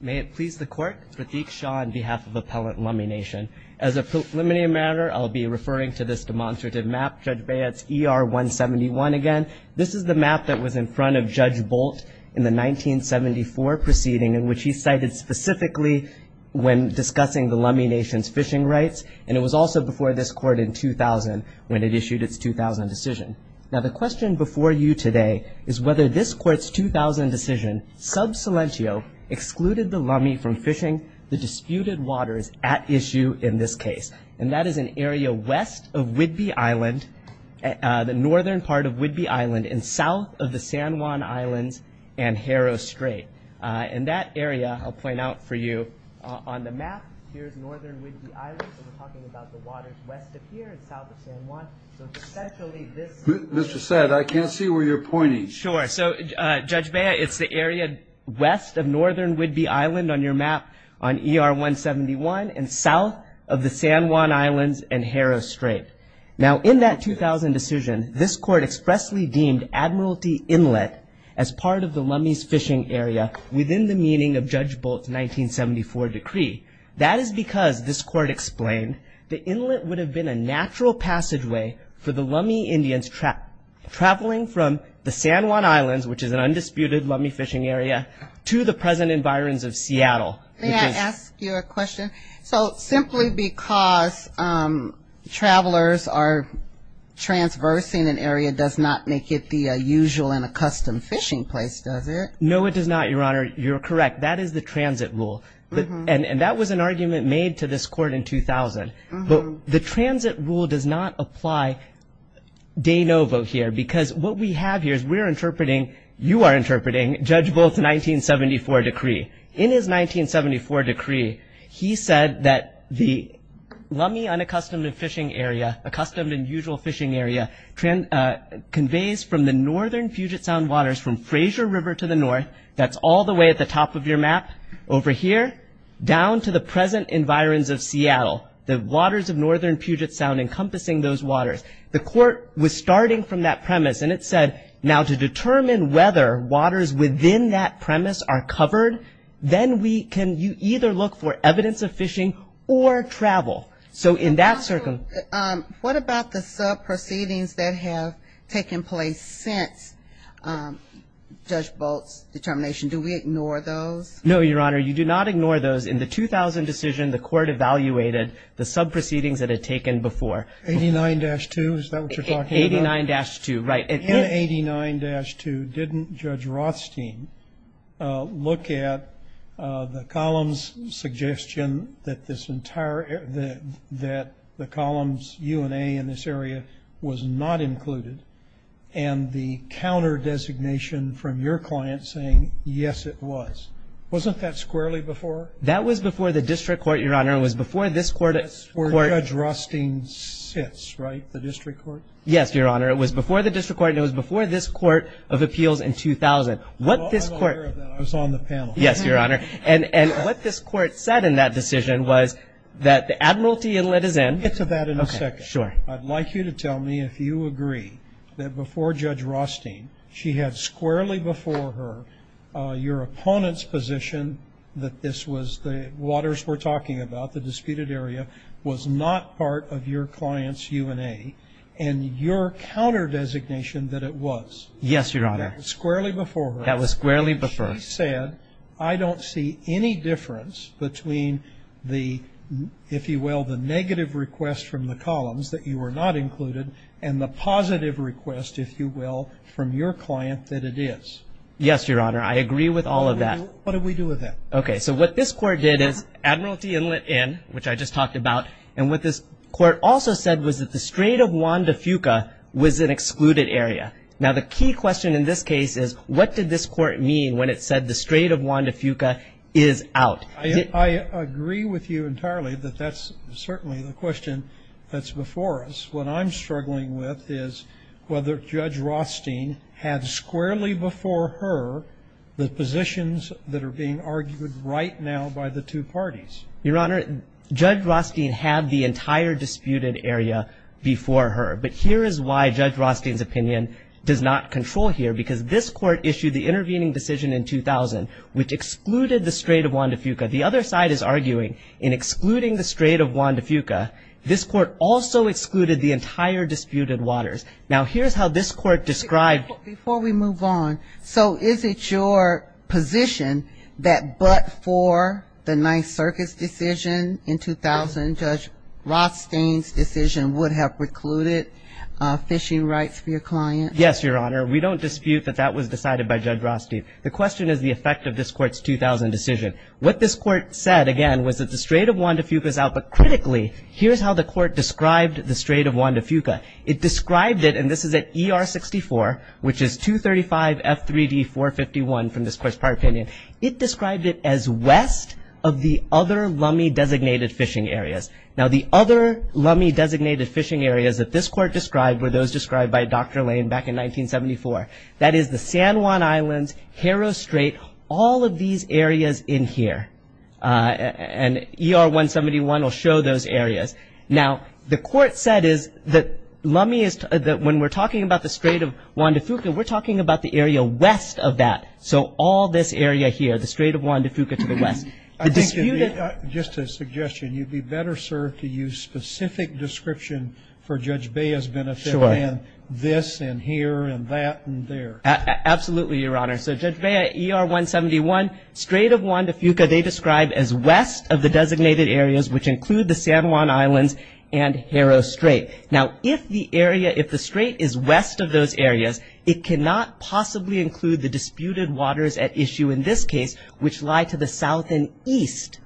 May it please the court, Pratik Shah on behalf of Appellant Lummi Nation. As a preliminary matter, I'll be referring to this demonstrative map, Judge Bayat's ER-171 again. This is the map that was in front of Judge Bolt in the 1974 proceeding, in which he cited specifically when discussing the Lummi Nation's fishing rights. And it was also before this court in 2000 when it issued its 2000 decision. Now the question before you today is whether this court's 2000 decision, sub silentio, excluded the Lummi from fishing the disputed waters at issue in this case. And that is an area west of Whidbey Island, the northern part of Whidbey Island and south of the San Juan Islands and Harrow Strait. And that area, I'll point out for you on the map, here's northern Whidbey Island, so we're talking about the waters west of here and south of San Juan. So it's essentially this- Mr. Said, I can't see where you're pointing. Sure, so Judge Bayat, it's the area west of northern Whidbey Island on your map on ER-171 and south of the San Juan Islands and Harrow Strait. Now in that 2000 decision, this court expressly deemed Admiralty Inlet as part of the Lummi's fishing area within the meaning of Judge Bolt's 1974 decree. That is because, this court explained, the inlet would have been a natural passageway for the Lummi Indians traveling from the San Juan Islands, which is an undisputed Lummi fishing area, to the present environs of Seattle. May I ask you a question? So simply because travelers are transversing an area does not make it the usual and a custom fishing place, does it? No, it does not, Your Honor. You're correct. That is the transit rule. And that was an argument made to this court in 2000. But the transit rule does not apply de novo here because what we have here is we're interpreting, you are interpreting, Judge Bolt's 1974 decree. In his 1974 decree, he said that the Lummi unaccustomed and fishing area, accustomed and usual fishing area, conveys from the northern Puget Sound waters from Fraser River to the north, that's all the way at the top of your map over here, down to the present environs of Seattle, the waters of northern Puget Sound encompassing those waters. The court was starting from that premise and it said, now to determine whether waters within that premise are covered, then we can either look for evidence of fishing or travel. So in that circumstance. What about the sub-proceedings that have taken place since Judge Bolt's determination? Do we ignore those? No, Your Honor, you do not ignore those. In the 2000 decision, the court evaluated the sub-proceedings that had taken before. 89-2, is that what you're talking about? 89-2, right. In 89-2, didn't Judge Rothstein look at the columns suggestion that this entire, that the columns UNA in this area was not included and the counter-designation from your client saying, yes, it was. Wasn't that squarely before? That was before the district court, Your Honor. It was before this court. That's where Judge Rothstein sits, right? The district court? Yes, Your Honor, it was before the district court and it was before this court of appeals in 2000. What this court. I'm aware of that, I was on the panel. Yes, Your Honor. And what this court said in that decision was that the admiralty inlet is in. Get to that in a second. Sure. I'd like you to tell me if you agree that before Judge Rothstein, she had squarely before her your opponent's position that this was, the waters we're talking about, the disputed area was not part of your client's UNA and your counter-designation that it was. Yes, Your Honor. That was squarely before her. That was squarely before. And she said, I don't see any difference between the, if you will, the negative request from the columns that you were not included and the positive request, if you will, from your client that it is. Yes, Your Honor, I agree with all of that. What do we do with that? Okay, so what this court did is admiralty inlet in, which I just talked about, and what this court also said was that the Strait of Juan de Fuca was an excluded area. Now, the key question in this case is, what did this court mean when it said the Strait of Juan de Fuca is out? I agree with you entirely that that's certainly the question that's before us. What I'm struggling with is whether Judge Rothstein had squarely before her the positions that are being argued right now by the two parties. Your Honor, Judge Rothstein had the entire disputed area before her. But here is why Judge Rothstein's opinion does not control here, because this court issued the intervening decision in 2000, which excluded the Strait of Juan de Fuca. The other side is arguing, in excluding the Strait of Juan de Fuca, this court also excluded the entire disputed waters. Now, here's how this court described. Before we move on, so is it your position that but for the Ninth Circuit's decision in 2000, Judge Rothstein's decision would have precluded fishing rights for your client? Yes, Your Honor. We don't dispute that that was decided by Judge Rothstein. The question is the effect of this court's 2000 decision. What this court said, again, was that the Strait of Juan de Fuca is out, but critically, here's how the court described the Strait of Juan de Fuca. It described it, and this is at ER 64, which is 235 F3D 451 from this court's prior opinion. It described it as west of the other Lummi-designated fishing areas. Now, the other Lummi-designated fishing areas that this court described were those described by Dr. Lane back in 1974. That is the San Juan Islands, Haro Strait, all of these areas in here. And ER 171 will show those areas. Now, the court said is that when we're talking about the Strait of Juan de Fuca, we're talking about the area west of that. So all this area here, the Strait of Juan de Fuca to the west. Just a suggestion. You'd be better, sir, to use specific description for Judge Bea's benefit than this, and here, and that, and there. Absolutely, Your Honor. So Judge Bea, ER 171, Strait of Juan de Fuca, they describe as west of the designated areas, which include the San Juan Islands and Haro Strait. Now, if the area, if the Strait is west of those areas, it cannot possibly include the disputed waters at issue in this case, which lie to the south and east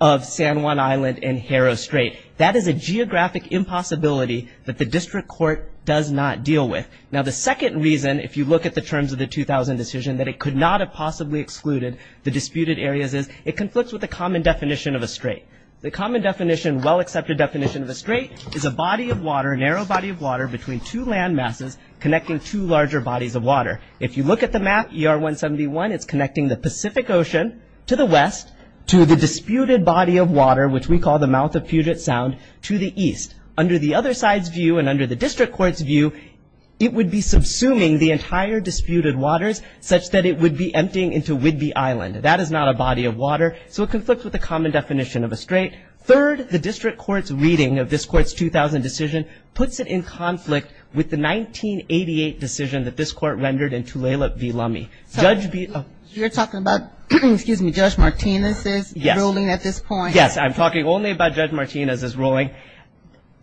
of San Juan Island and Haro Strait. That is a geographic impossibility that the district court does not deal with. Now, the second reason, if you look at the terms of the 2000 decision, that it could not have possibly excluded the disputed areas is it conflicts with the common definition of a strait. The common definition, well-accepted definition of a strait is a body of water, a narrow body of water between two land masses connecting two larger bodies of water. If you look at the map, ER 171, it's connecting the Pacific Ocean to the west to the disputed body of water, which we call the mouth of Puget Sound, to the east. Under the other side's view and under the district court's view, it would be subsuming the entire disputed waters such that it would be emptying into Whidbey Island. That is not a body of water, so it is not a common definition of a strait. Third, the district court's reading of this court's 2000 decision puts it in conflict with the 1988 decision that this court rendered in Tulalip v. Lummi. Judge Beezer. You're talking about, excuse me, Judge Martinez's ruling at this point? Yes, I'm talking only about Judge Martinez's ruling.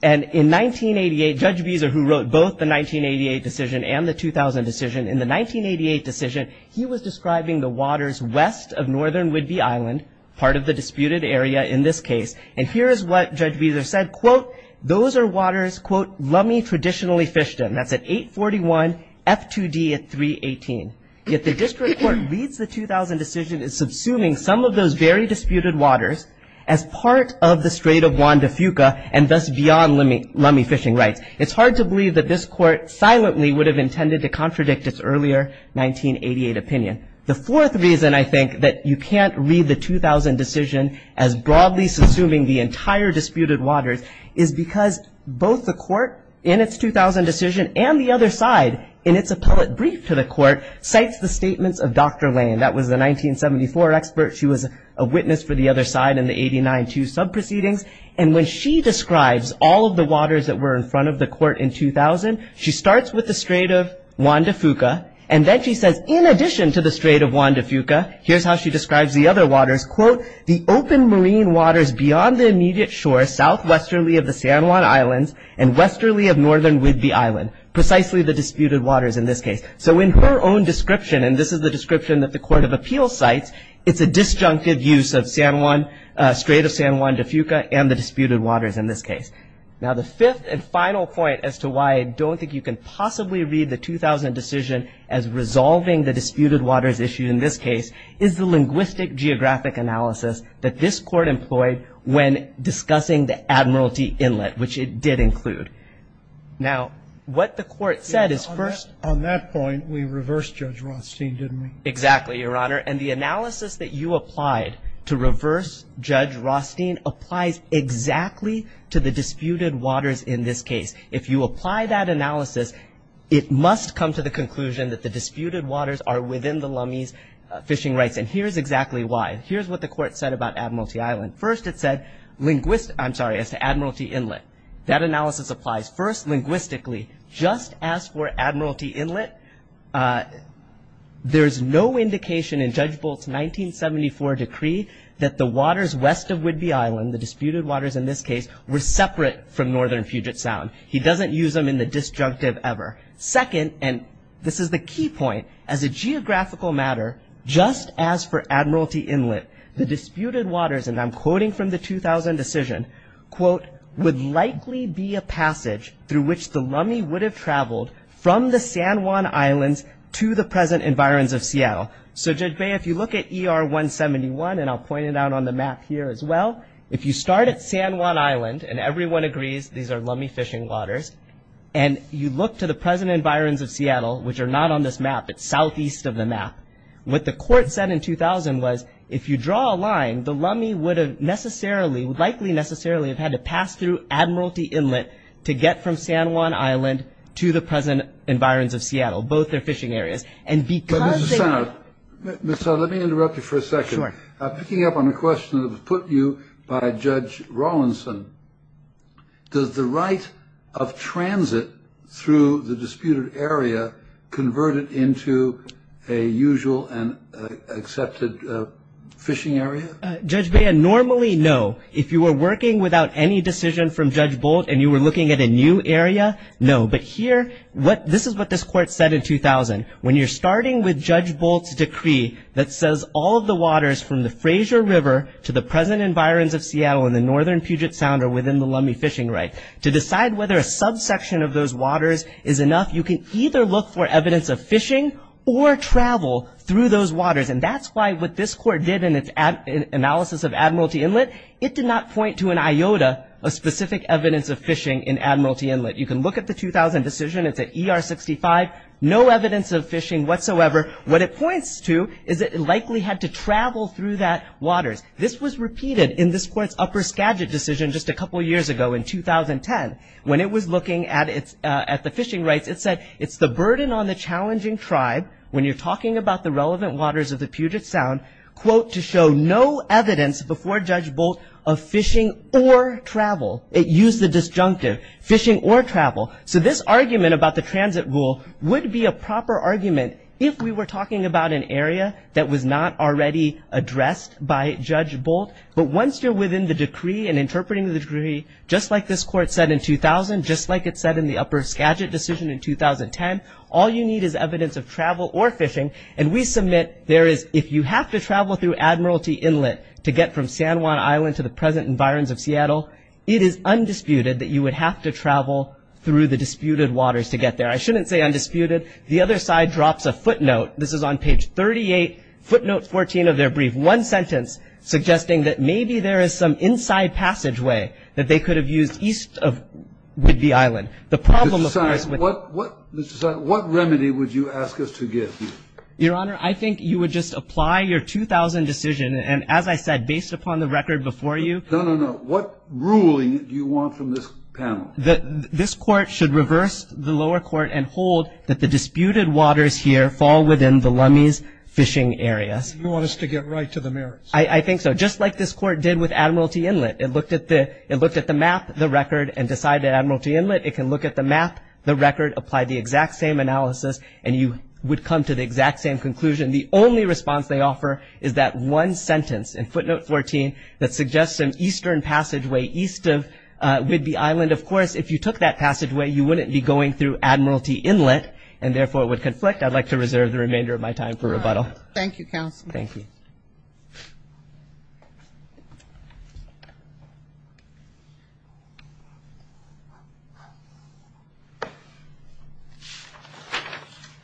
And in 1988, Judge Beezer, who wrote both the 1988 decision and the 2000 decision, in the 1988 decision, he was describing the waters west of northern Whidbey Island, part of the disputed area in this case. And here is what Judge Beezer said. Quote, those are waters, quote, Lummi traditionally fished in. That's at 841 F2D at 318. Yet the district court reads the 2000 decision as subsuming some of those very disputed waters as part of the Strait of Juan de Fuca and thus beyond Lummi fishing rights. It's hard to believe that this court silently would have intended to contradict its earlier 1988 opinion. The fourth reason, I think, that you can't read the 2000 decision as broadly subsuming the entire disputed waters is because both the court in its 2000 decision and the other side in its appellate brief to the court cites the statements of Dr. Lane. That was the 1974 expert. She was a witness for the other side in the 89-2 subproceedings. And when she describes all of the waters that were in front of the court in 2000, she starts with the Strait of Juan de Fuca. And then she says, in addition to the Strait of Juan de Fuca, here's how she describes the other waters. Quote, the open marine waters beyond the immediate shore southwesterly of the San Juan Islands and westerly of northern Whidbey Island, precisely the disputed waters in this case. So in her own description, and this is the description that the court of appeals cites, it's a disjunctive use of Strait of San Juan de Fuca and the disputed waters in this case. Now, the fifth and final point as to why I don't think you can possibly read the 2000 decision as resolving the disputed waters issue in this case is the linguistic geographic analysis that this court employed when discussing the Admiralty Inlet, which it did include. Now, what the court said is first. On that point, we reversed Judge Rothstein, didn't we? Exactly, Your Honor. And the analysis that you applied to reverse Judge Rothstein applies exactly to the disputed waters in this case. If you apply that analysis, it must come to the conclusion that the disputed waters are within the Lummi's fishing rights. And here's exactly why. Here's what the court said about Admiralty Island. First, it said linguist, I'm sorry, as to Admiralty Inlet. That analysis applies first linguistically. Just as for Admiralty Inlet, there's no indication in Judge Bolt's 1974 decree that the waters west of Whidbey Island, the disputed waters in this case, were separate from northern Puget Sound. He doesn't use them in the disjunctive ever. Second, and this is the key point, as a geographical matter, just as for Admiralty Inlet, the disputed waters, and I'm quoting from the 2000 decision, quote, would likely be a passage through which the Lummi would have traveled from the San Juan Islands to the present environs of Seattle. So Judge Bay, if you look at ER 171, and I'll point it out on the map here as well, if you start at San Juan Island, and everyone agrees these are Lummi fishing waters, and you look to the present environs of Seattle, which are not on this map. It's southeast of the map. What the court said in 2000 was, if you draw a line, the Lummi would have likely necessarily have had to pass through Admiralty Inlet to get from San Juan Island to the present environs of Seattle, both their fishing areas. And because they were- But, Mr. Senator, let me interrupt you for a second. Picking up on a question that was put to you by Judge Rawlinson, does the right of transit through the disputed area convert it into a usual and accepted fishing area? Judge Bay, normally, no. If you were working without any decision from Judge Bolt, and you were looking at a new area, no. But here, this is what this court said in 2000. When you're starting with Judge Bolt's decree that says all of the waters from the Fraser River to the present environs of Seattle and the northern Puget Sound are within the Lummi fishing right, to decide whether a subsection of those waters is enough, you can either look for evidence of fishing or travel through those waters. And that's why what this court did in its analysis of Admiralty Inlet, it did not point to an iota of specific evidence of fishing in Admiralty Inlet. You can look at the 2000 decision. It's at ER 65. No evidence of fishing whatsoever. What it points to is that it likely had to travel through that waters. This was repeated in this court's upper Skagit decision just a couple of years ago in 2010. When it was looking at the fishing rights, it said it's the burden on the challenging tribe, when you're talking about the relevant waters of the Puget Sound, quote, to show no evidence before Judge Bolt of fishing or travel. It used the disjunctive, fishing or travel. So this argument about the transit rule would be a proper argument if we were talking about an area that was not already addressed by Judge Bolt. But once you're within the decree and interpreting the decree, just like this court said in 2000, just like it said in the upper Skagit decision in 2010, all you need is evidence of travel or fishing. And we submit there is, if you have to travel through Admiralty Inlet to get from San Juan Island to the present environs of Seattle, it is undisputed that you would have to travel through the disputed waters to get there. I shouldn't say undisputed. The other side drops a footnote. This is on page 38, footnote 14 of their brief, one sentence suggesting that maybe there is some inside passageway that they could have used east of Whidbey Island. The problem, of course, with it. Mr. Simon, what remedy would you ask us to give you? Your Honor, I think you would just apply your 2000 decision. And as I said, based upon the record before you. No, no, no. What ruling do you want from this panel? This court should reverse the lower court and hold that the disputed waters here fall within the Lummi's fishing areas. You want us to get right to the merits. I think so. Just like this court did with Admiralty Inlet. It looked at the map, the record, and decided Admiralty Inlet. It can look at the map, the record, apply the exact same analysis, and you would come to the exact same conclusion. The only response they offer is that one sentence in footnote 14 that suggests an eastern passageway east of Whidbey Island. Of course, if you took that passageway, you wouldn't be going through Admiralty Inlet. And therefore, it would conflict. I'd like to reserve the remainder of my time for rebuttal. Thank you, counsel. Thank you.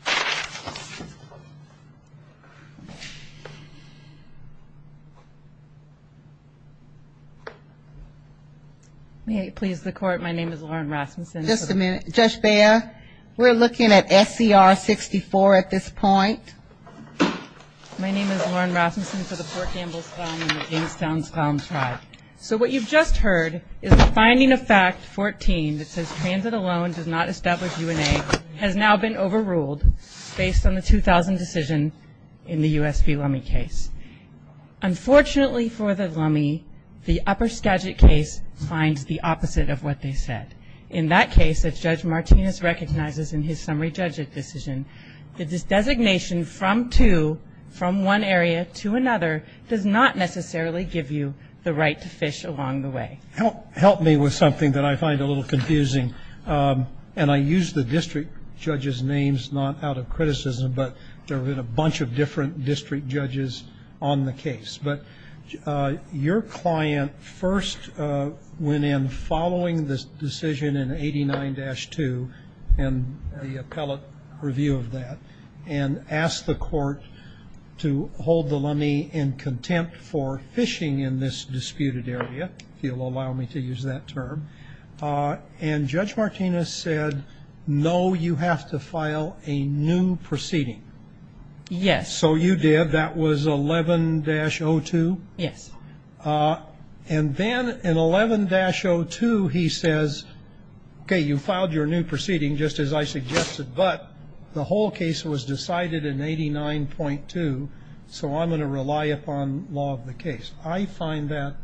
Thank you. May it please the court. My name is Lauren Rasmussen. Just a minute. Judge Bea, we're looking at SCR 64 at this point. My name is Lauren Rasmussen for the Fort Campbell's Founding of the Amistown Scallam Tribe. So what you've just heard is the finding of fact 14 that says transit alone does not establish UNA has now been overruled based on the 2000 decision in the USP Lummi case. Unfortunately for the Lummi, the upper Skagit case finds the opposite of what they said. In that case, as Judge Martinez recognizes in his summary judge decision, the designation from two, from one area to another, does not necessarily give you the right to fish along the way. Help me with something that I find a little confusing. And I use the district judge's names not out of criticism, but there have been a bunch of different district judges on the case. But your client first went in following this decision in 89-2 and the appellate review of that and asked the court to hold the Lummi in contempt for fishing in this disputed area, if you'll allow me to use that term. And Judge Martinez said, no, you have to file a new proceeding. Yes. So you did. That was 11-02? Yes. And then in 11-02, he says, OK, you filed your new proceeding just as I suggested, but the whole case was decided in 89-2, so I'm going to rely upon law of the case. I find that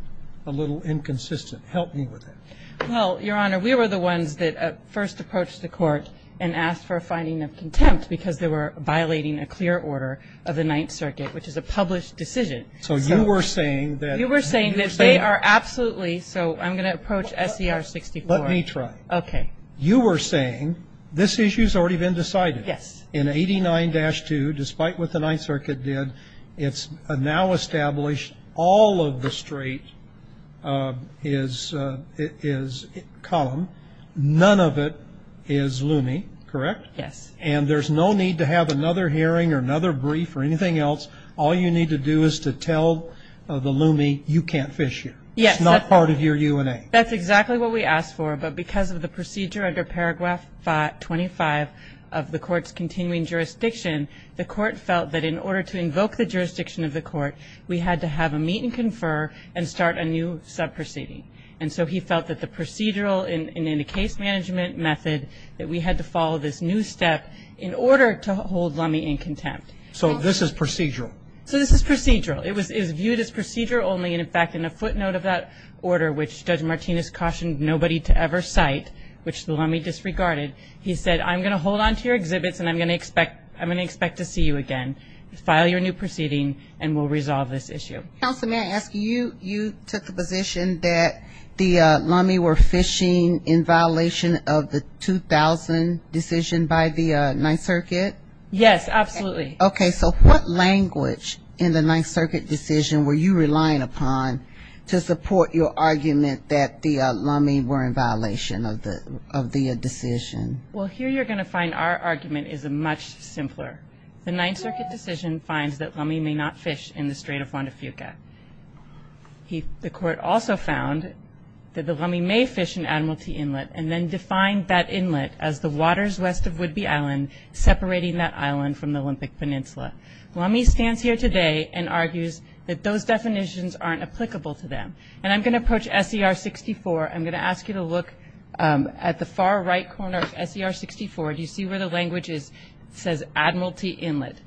a little inconsistent. Help me with that. Well, Your Honor, we were the ones that first approached the court and asked for a finding of contempt because they were violating a clear order of the Ninth Circuit, which is a published decision. So you were saying that they are absolutely, so I'm going to approach SCR-64. Let me try. OK. You were saying this issue's already been decided. Yes. In 89-2, despite what the Ninth Circuit did, it's now established all of the straight is column. None of it is Lummi, correct? Yes. And there's no need to have another hearing or another brief or anything else. All you need to do is to tell the Lummi, you can't fish here. It's not part of your UNA. That's exactly what we asked for, but because of the procedure under paragraph 25 of the court's continuing jurisdiction, the court felt that in order to invoke the jurisdiction of the court, we had to have a meet and confer and start a new sub-proceeding. And so he felt that the procedural and in the case management method, that we had to follow this new step in order to hold Lummi in contempt. So this is procedural? So this is procedural. It was viewed as procedural only, and in fact, in a footnote of that order, which Judge Martinez cautioned nobody to ever cite, which the Lummi disregarded, he said, I'm going to hold on to your exhibits and I'm going to expect to see you again. File your new proceeding and we'll resolve this issue. Counsel, may I ask you, you took the position that the Lummi were fishing in violation of the 2000 decision by the Ninth Circuit? Yes, absolutely. OK, so what language in the Ninth Circuit decision were you relying upon to support your argument that the Lummi were in violation of their decision? Well, here you're going to find our argument is much simpler. The Ninth Circuit decision finds that Lummi may not fish in the Strait of Juan de Fuca. The court also found that the Lummi may fish in Admiralty Inlet and then define that inlet as the waters west of Whidbey Island separating that island from the Olympic Peninsula. Lummi stands here today and argues that those definitions aren't applicable to them. And I'm going to approach SER 64. I'm going to ask you to look at the far right corner of SER 64. Do you see where the language is? It says Admiralty Inlet.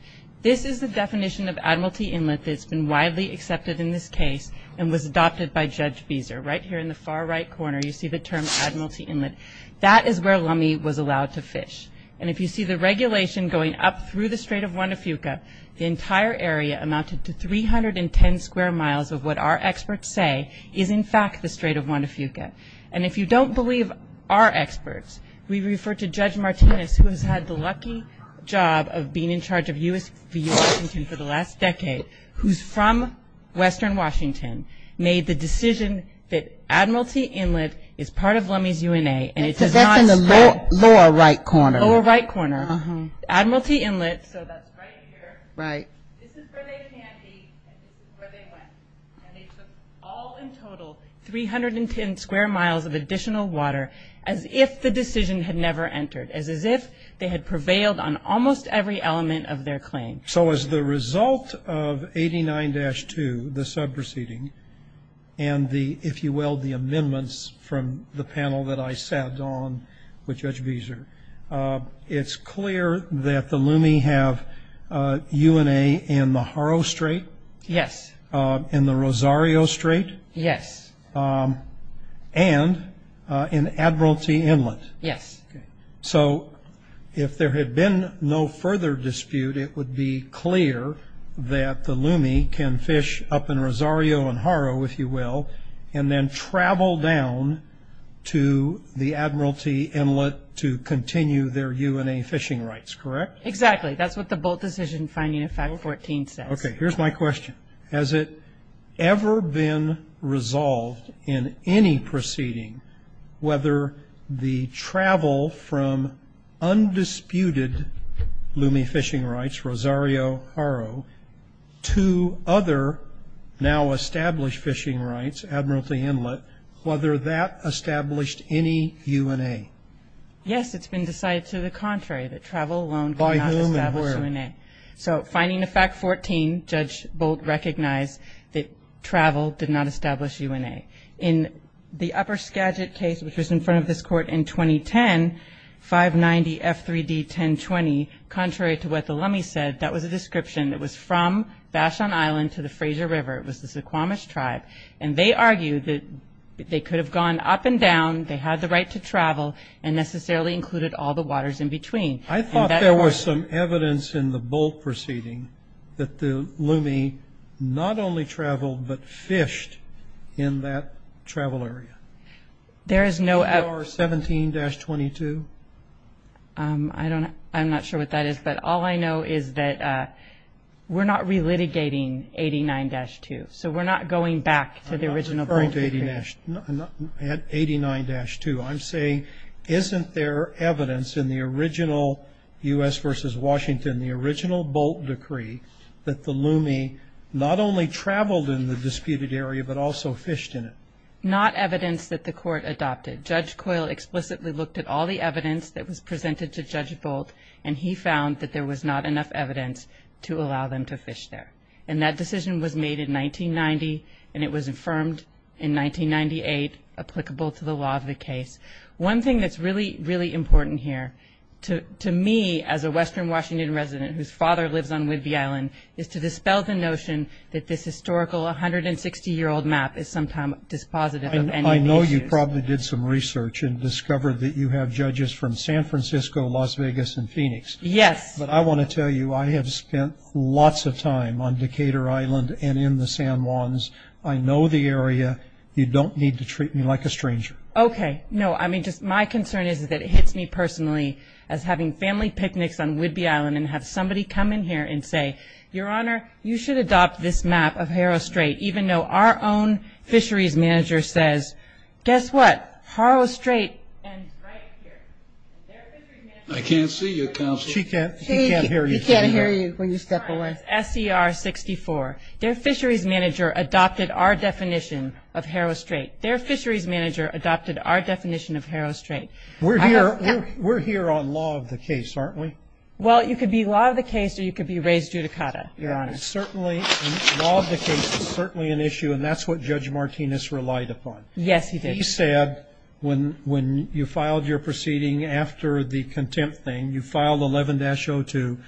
This is the definition of Admiralty Inlet that's been widely accepted in this case and was adopted by Judge Beeser. Right here in the far right corner, you see the term Admiralty Inlet. That is where Lummi was allowed to fish. And if you see the regulation going up through the Strait of Juan de Fuca, the entire area amounted to 310 square miles of what our experts say is, in fact, the Strait of Juan de Fuca. And if you don't believe our experts, we refer to Judge Martinez, who has had the lucky job of being in charge of USV Washington for the last decade, who's from western Washington, made the decision that Admiralty Inlet is part of Lummi's UNA. And it does not stand- That's in the lower right corner. Lower right corner. Admiralty Inlet, so that's right here. Right. This is where they can be, and this is where they went. And they took all in total 310 square miles of additional water as if the decision had never entered, as if they had prevailed on almost every element of their claim. So as the result of 89-2, the sub-proceeding, and the, if you will, the amendments from the panel that I sat on with Judge Beeser, it's clear that the Lummi have UNA in the Haro Strait. Yes. In the Rosario Strait. Yes. And in Admiralty Inlet. Yes. So if there had been no further dispute, it would be clear that the Lummi can fish up in Rosario and Haro, if you will, and then travel down to the Admiralty Inlet to continue their UNA fishing rights, correct? Exactly. That's what the Bolt Decision Finding in 514 says. Okay, here's my question. Has it ever been resolved in any proceeding whether the travel from undisputed Lummi fishing rights, Rosario, Haro, to other now established fishing rights, Admiralty Inlet, whether that established any UNA? Yes, it's been decided to the contrary, that travel alone did not establish UNA. So Finding of Fact 14, Judge Bolt recognized that travel did not establish UNA. In the Upper Skagit case, which was in front of this court in 2010, 590 F3D 1020, contrary to what the Lummi said, that was a description that was from Bashan Island to the Fraser River, it was the Suquamish tribe, and they argued that they could have gone up and down, they had the right to travel, and necessarily included all the waters in between. I thought there was some evidence in the Bolt proceeding that the Lummi not only traveled, but fished in that travel area. There is no evidence. CDR 17-22? I'm not sure what that is, but all I know is that we're not relitigating 89-2, so we're not going back to the original Bolt. I'm not referring to 89-2. I'm saying, isn't there evidence in the original U.S. versus Washington, the original Bolt decree, that the Lummi not only traveled in the disputed area, but also fished in it? Not evidence that the court adopted. Judge Coyle explicitly looked at all the evidence that was presented to Judge Bolt, and he found that there was not enough evidence to allow them to fish there. And that decision was made in 1990, and it was affirmed in 1998, applicable to the law of the case. One thing that's really, really important here, to me, as a Western Washington resident whose father lives on Whidbey Island, is to dispel the notion that this historical 160-year-old map is sometimes dispositive of any issues. I know you probably did some research and discovered that you have judges from San Francisco, Las Vegas, and Phoenix. Yes. But I want to tell you, I have spent lots of time on Decatur Island and in the San Juans. I know the area. You don't need to treat me like a stranger. Okay, no. I mean, just my concern is that it hits me personally as having family picnics on Whidbey Island and have somebody come in here and say, Your Honor, you should adopt this map of Harrow Strait, even though our own fisheries manager says, guess what? Harrow Strait ends right here. I can't see you, Counselor. She can't hear you. She can't hear you when you step away. SCR-64. Their fisheries manager adopted our definition of Harrow Strait. Their fisheries manager adopted our definition of Harrow Strait. We're here on law of the case, aren't we? Well, you could be law of the case or you could be raised judicata, Your Honor. Certainly, law of the case is certainly an issue and that's what Judge Martinez relied upon. Yes, he did. He said, when you filed your proceeding after the contempt thing, you filed 11-02.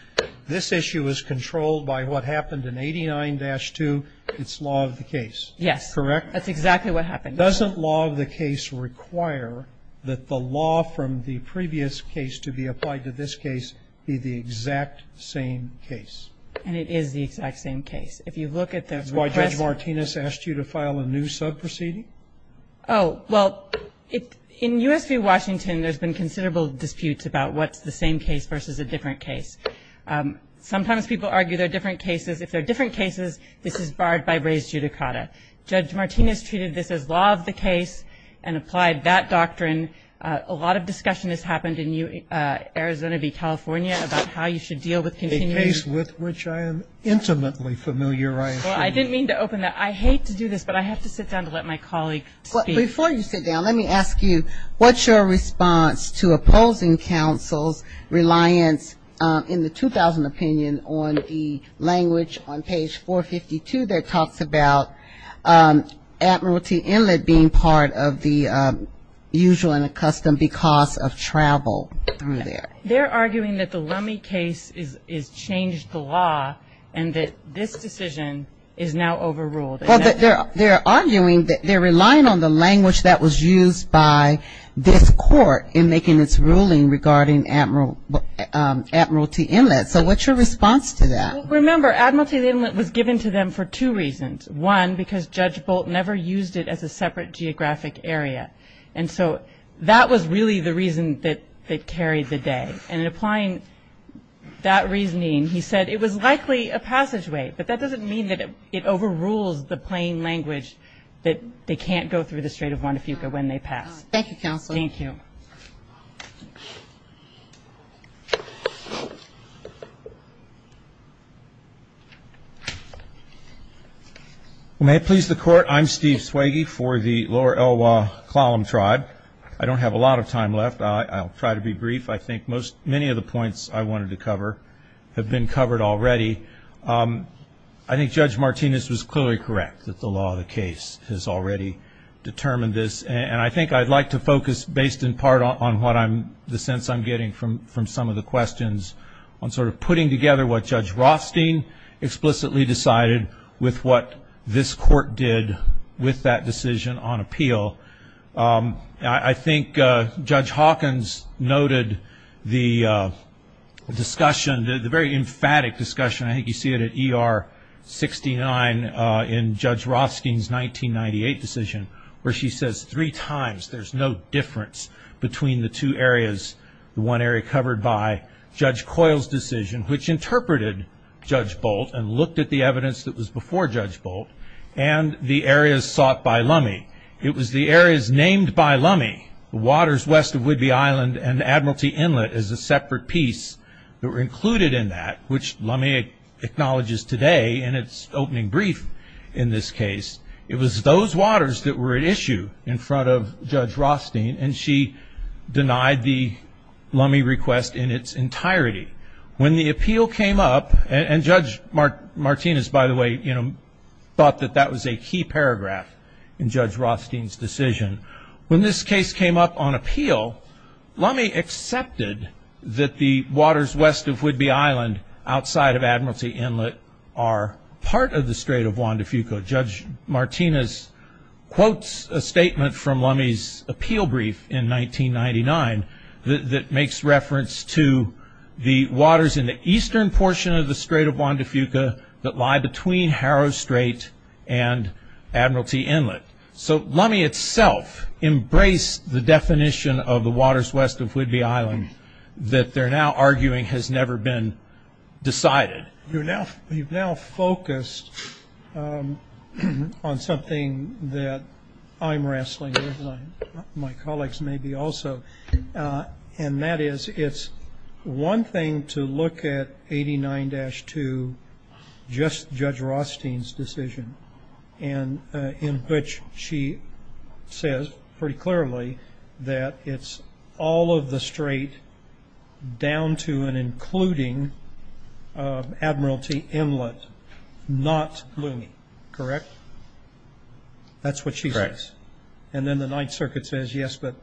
This issue is controlled by what happened in 89-02. It's law of the case. Yes. Correct? That's exactly what happened. Doesn't law of the case require that the law from the previous case to be applied to this case be the exact same case? And it is the exact same case. If you look at the request. That's why Judge Martinez asked you to file a new sub proceeding? Oh, well, in US v. Washington, there's been considerable disputes about what's the same case versus a different case. Sometimes people argue they're different cases. If they're different cases, this is barred by raised judicata. Judge Martinez treated this as law of the case and applied that doctrine. A lot of discussion has happened in Arizona v. California about how you should deal with continuing. A case with which I am intimately familiar, I assume. Well, I didn't mean to open that. I hate to do this, but I have to sit down to let my colleague speak. Before you sit down, let me ask you, what's your response to opposing counsel's reliance in the 2000 opinion on the language on page 452 that talks about admiralty inlet being part of the usual and accustomed because of travel through there? They're arguing that the Lummi case has changed the law and that this decision is now overruled. Well, they're arguing that they're relying on the language that was used by this court in making its ruling regarding admiralty inlet. So what's your response to that? Remember, admiralty inlet was given to them for two reasons. One, because Judge Bolt never used it as a separate geographic area. And so that was really the reason that carried the day. And in applying that reasoning, he said it was likely a passageway, but that doesn't mean that it overrules the plain language that they can't go through the Strait of Juan de Fuca when they pass. Thank you, counsel. Thank you. May it please the court, I'm Steve Swagy for the Lower Elwha Klallam Tribe. I don't have a lot of time left. I'll try to be brief. I think many of the points I wanted to cover have been covered already. I think Judge Martinez was clearly correct that the law of the case has already determined this. And I think I'd like to focus based in part on the sense I'm getting from some of the questions on sort of putting together what Judge Rothstein explicitly decided with what this court did with that decision on appeal. I think Judge Hawkins noted the discussion, the very emphatic discussion, I think you see it at ER 69 in Judge Rothstein's 1998 decision, where she says three times, there's no difference between the two areas. The one area covered by Judge Coyle's decision, which interpreted Judge Bolt and looked at the evidence that was before Judge Bolt and the areas sought by Lummi. It was the areas named by Lummi, the waters west of Whidbey Island and Admiralty Inlet as a separate piece that were included in that, which Lummi acknowledges today in its opening brief in this case. It was those waters that were at issue in front of Judge Rothstein and she denied the Lummi request in its entirety. When the appeal came up and Judge Martinez, by the way, thought that that was a key paragraph in Judge Rothstein's decision. When this case came up on appeal, Lummi accepted that the waters west of Whidbey Island outside of Admiralty Inlet are part of the Strait of Juan de Fuca. Judge Martinez quotes a statement from Lummi's appeal brief in 1999 that makes reference to the waters in the eastern portion of the Strait of Juan de Fuca that lie between Harrow Strait and Admiralty Inlet. So Lummi itself embraced the definition of the waters west of Whidbey Island that they're now arguing has never been decided. You've now focused on something that I'm wrestling with, my colleagues maybe also, and that is it's one thing to look at 89-2 just Judge Rothstein's decision and in which she says pretty clearly that it's all of the Strait down to and including Admiralty Inlet, not Lummi, correct? That's what she says. And then the Ninth Circuit says, yes, but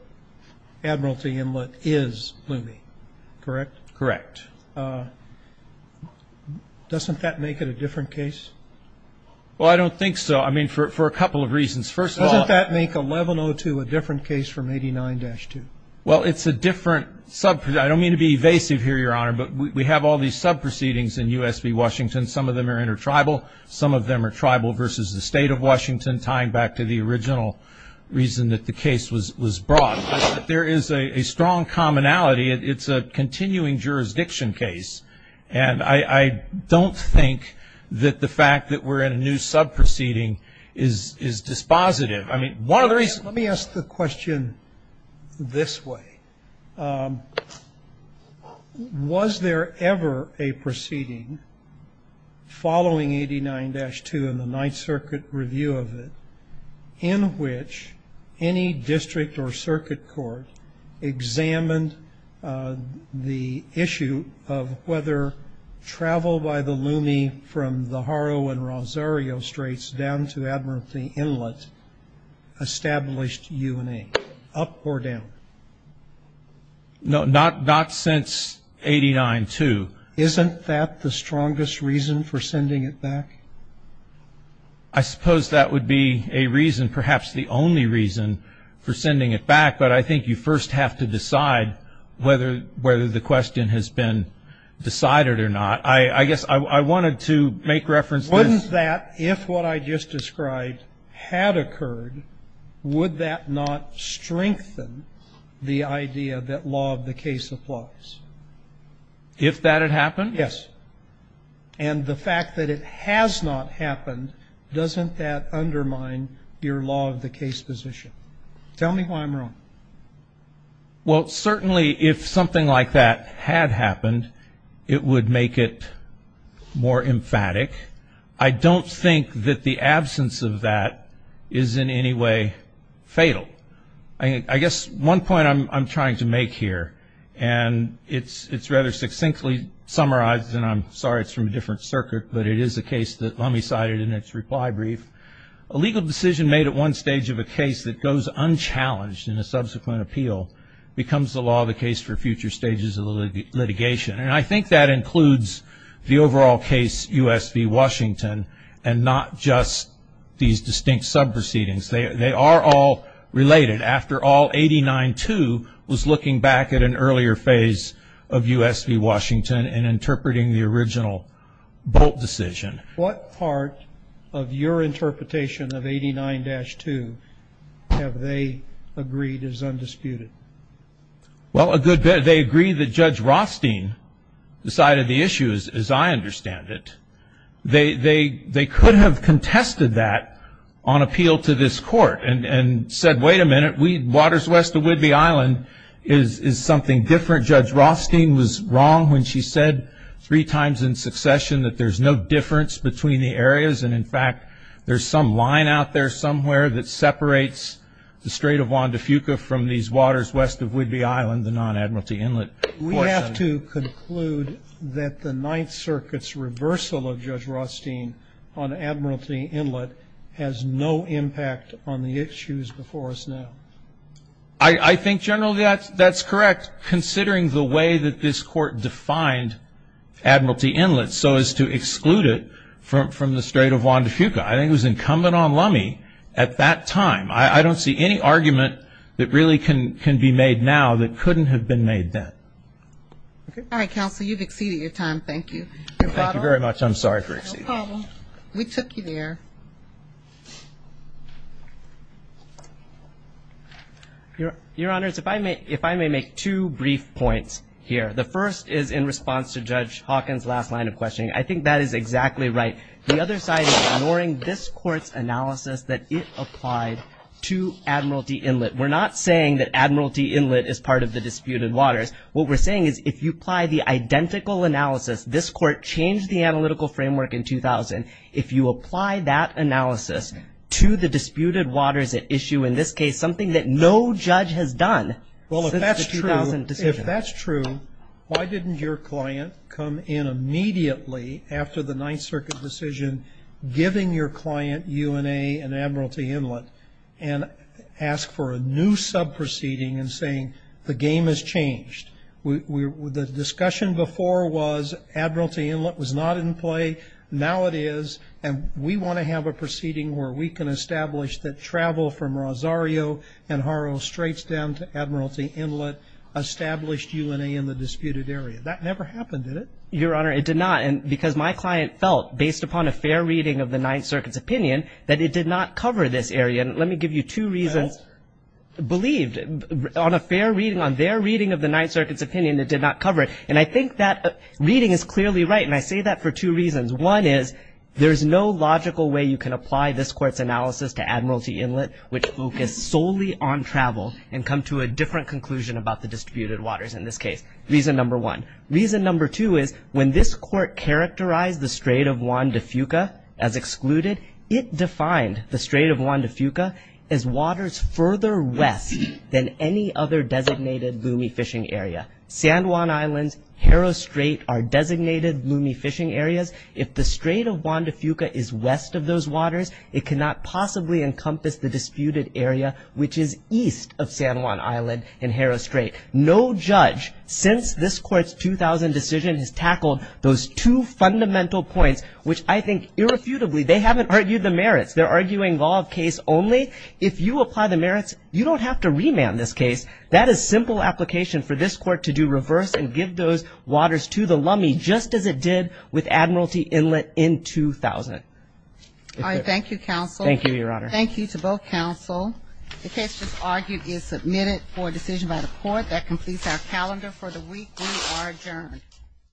Admiralty Inlet is Lummi, correct? Correct. Doesn't that make it a different case? Well, I don't think so. I mean, for a couple of reasons. First of all- From 89-2. Well, it's a different sub- I don't mean to be evasive here, Your Honor, but we have all these sub-proceedings in U.S. v. Washington. Some of them are inter-tribal. Some of them are tribal versus the state of Washington, tying back to the original reason that the case was brought. There is a strong commonality. It's a continuing jurisdiction case. And I don't think that the fact that we're in a new sub-proceeding is dispositive. I mean, one of the reasons- Let me ask the question this way. Was there ever a proceeding following 89-2 and the Ninth Circuit review of it in which any district or circuit court examined the issue of whether travel by the Lummi from the Harrow and Rosario Straits down to Admiralty Inlet established UNA, up or down? No, not since 89-2. Isn't that the strongest reason for sending it back? I suppose that would be a reason, perhaps the only reason for sending it back, but I think you first have to decide whether the question has been decided or not. I guess I wanted to make reference to- If what I just described had occurred, would that not strengthen the idea that law of the case applies? If that had happened? Yes. And the fact that it has not happened, doesn't that undermine your law of the case position? Tell me why I'm wrong. Well, certainly if something like that had happened, it would make it more emphatic. I don't think that the absence of that is in any way fatal. I guess one point I'm trying to make here, and it's rather succinctly summarized, and I'm sorry it's from a different circuit, but it is a case that Lummi cited in its reply brief. A legal decision made at one stage of a case that goes unchallenged in a subsequent appeal becomes the law of the case for future stages of the litigation. And I think that includes the overall case, U.S. v. Washington, and not just these distinct sub-proceedings. They are all related. After all, 89-2 was looking back at an earlier phase of U.S. v. Washington and interpreting the original Bolt decision. What part of your interpretation of 89-2 have they agreed is undisputed? Well, a good bit. They agree that Judge Rothstein decided the issue, as I understand it. They could have contested that on appeal to this court and said, wait a minute, waters west of Whidbey Island is something different. Judge Rothstein was wrong when she said three times in succession that there's no difference between the areas, and in fact, there's some line out there somewhere that separates the Strait of Juan de Fuca from these waters west of Whidbey Island, the non-Admiralty Inlet portion. We have to conclude that the Ninth Circuit's reversal of Judge Rothstein on Admiralty Inlet has no impact on the issues before us now. I think, General, that's correct, considering the way that this court defined Admiralty Inlet so as to exclude it from the Strait of Juan de Fuca. I think it was incumbent on Lummi at that time. I don't see any argument that really can be made now that couldn't have been made then. All right, Counsel, you've exceeded your time. Thank you. No problem. Thank you very much. I'm sorry for exceeding. No problem. We took you there. Your Honors, if I may make two brief points here. The first is in response to Judge Hawkins' last line of questioning. I think that is exactly right. The other side is ignoring this court's analysis that it applied to Admiralty Inlet. We're not saying that Admiralty Inlet is part of the disputed waters. What we're saying is if you apply the identical analysis, this court changed the analytical framework in 2000. If you apply that analysis to the disputed waters at issue in this case, something that no judge has done since the 2000 decision. If that's true, why didn't your client come in immediately after the Ninth Circuit decision, giving your client UNA and Admiralty Inlet, and ask for a new sub-proceeding and saying the game has changed. The discussion before was Admiralty Inlet was not in play. Now it is, and we want to have a proceeding where we can establish that travel from Rosario and Haro straights down to Admiralty Inlet established UNA in the disputed area. That never happened, did it? Your Honor, it did not. Because my client felt based upon a fair reading of the Ninth Circuit's opinion that it did not cover this area. Let me give you two reasons. Believed on a fair reading, on their reading of the Ninth Circuit's opinion, it did not cover it. And I think that reading is clearly right. And I say that for two reasons. One is there's no logical way you can apply this court's analysis to Admiralty Inlet, which focused solely on travel and come to a different conclusion about the disputed waters in this case. Reason number one. Reason number two is when this court characterized the Strait of Juan de Fuca as excluded, it defined the Strait of Juan de Fuca as waters further west than any other designated loomy fishing area. San Juan Islands, Haro Strait are designated loomy fishing areas. If the Strait of Juan de Fuca is west of those waters, it cannot possibly encompass the disputed area, which is east of San Juan Island and Haro Strait. No judge since this court's 2000 decision has tackled those two fundamental points, which I think irrefutably, they haven't argued the merits. They're arguing law of case only. If you apply the merits, you don't have to remand this case. That is simple application for this court to do reverse and give those waters to the lummy, just as it did with Admiralty Inlet in 2000. All right, thank you, counsel. Thank you, Your Honor. Thank you to both counsel. The case just argued is submitted for decision by the court. That completes our calendar for the week. We are adjourned.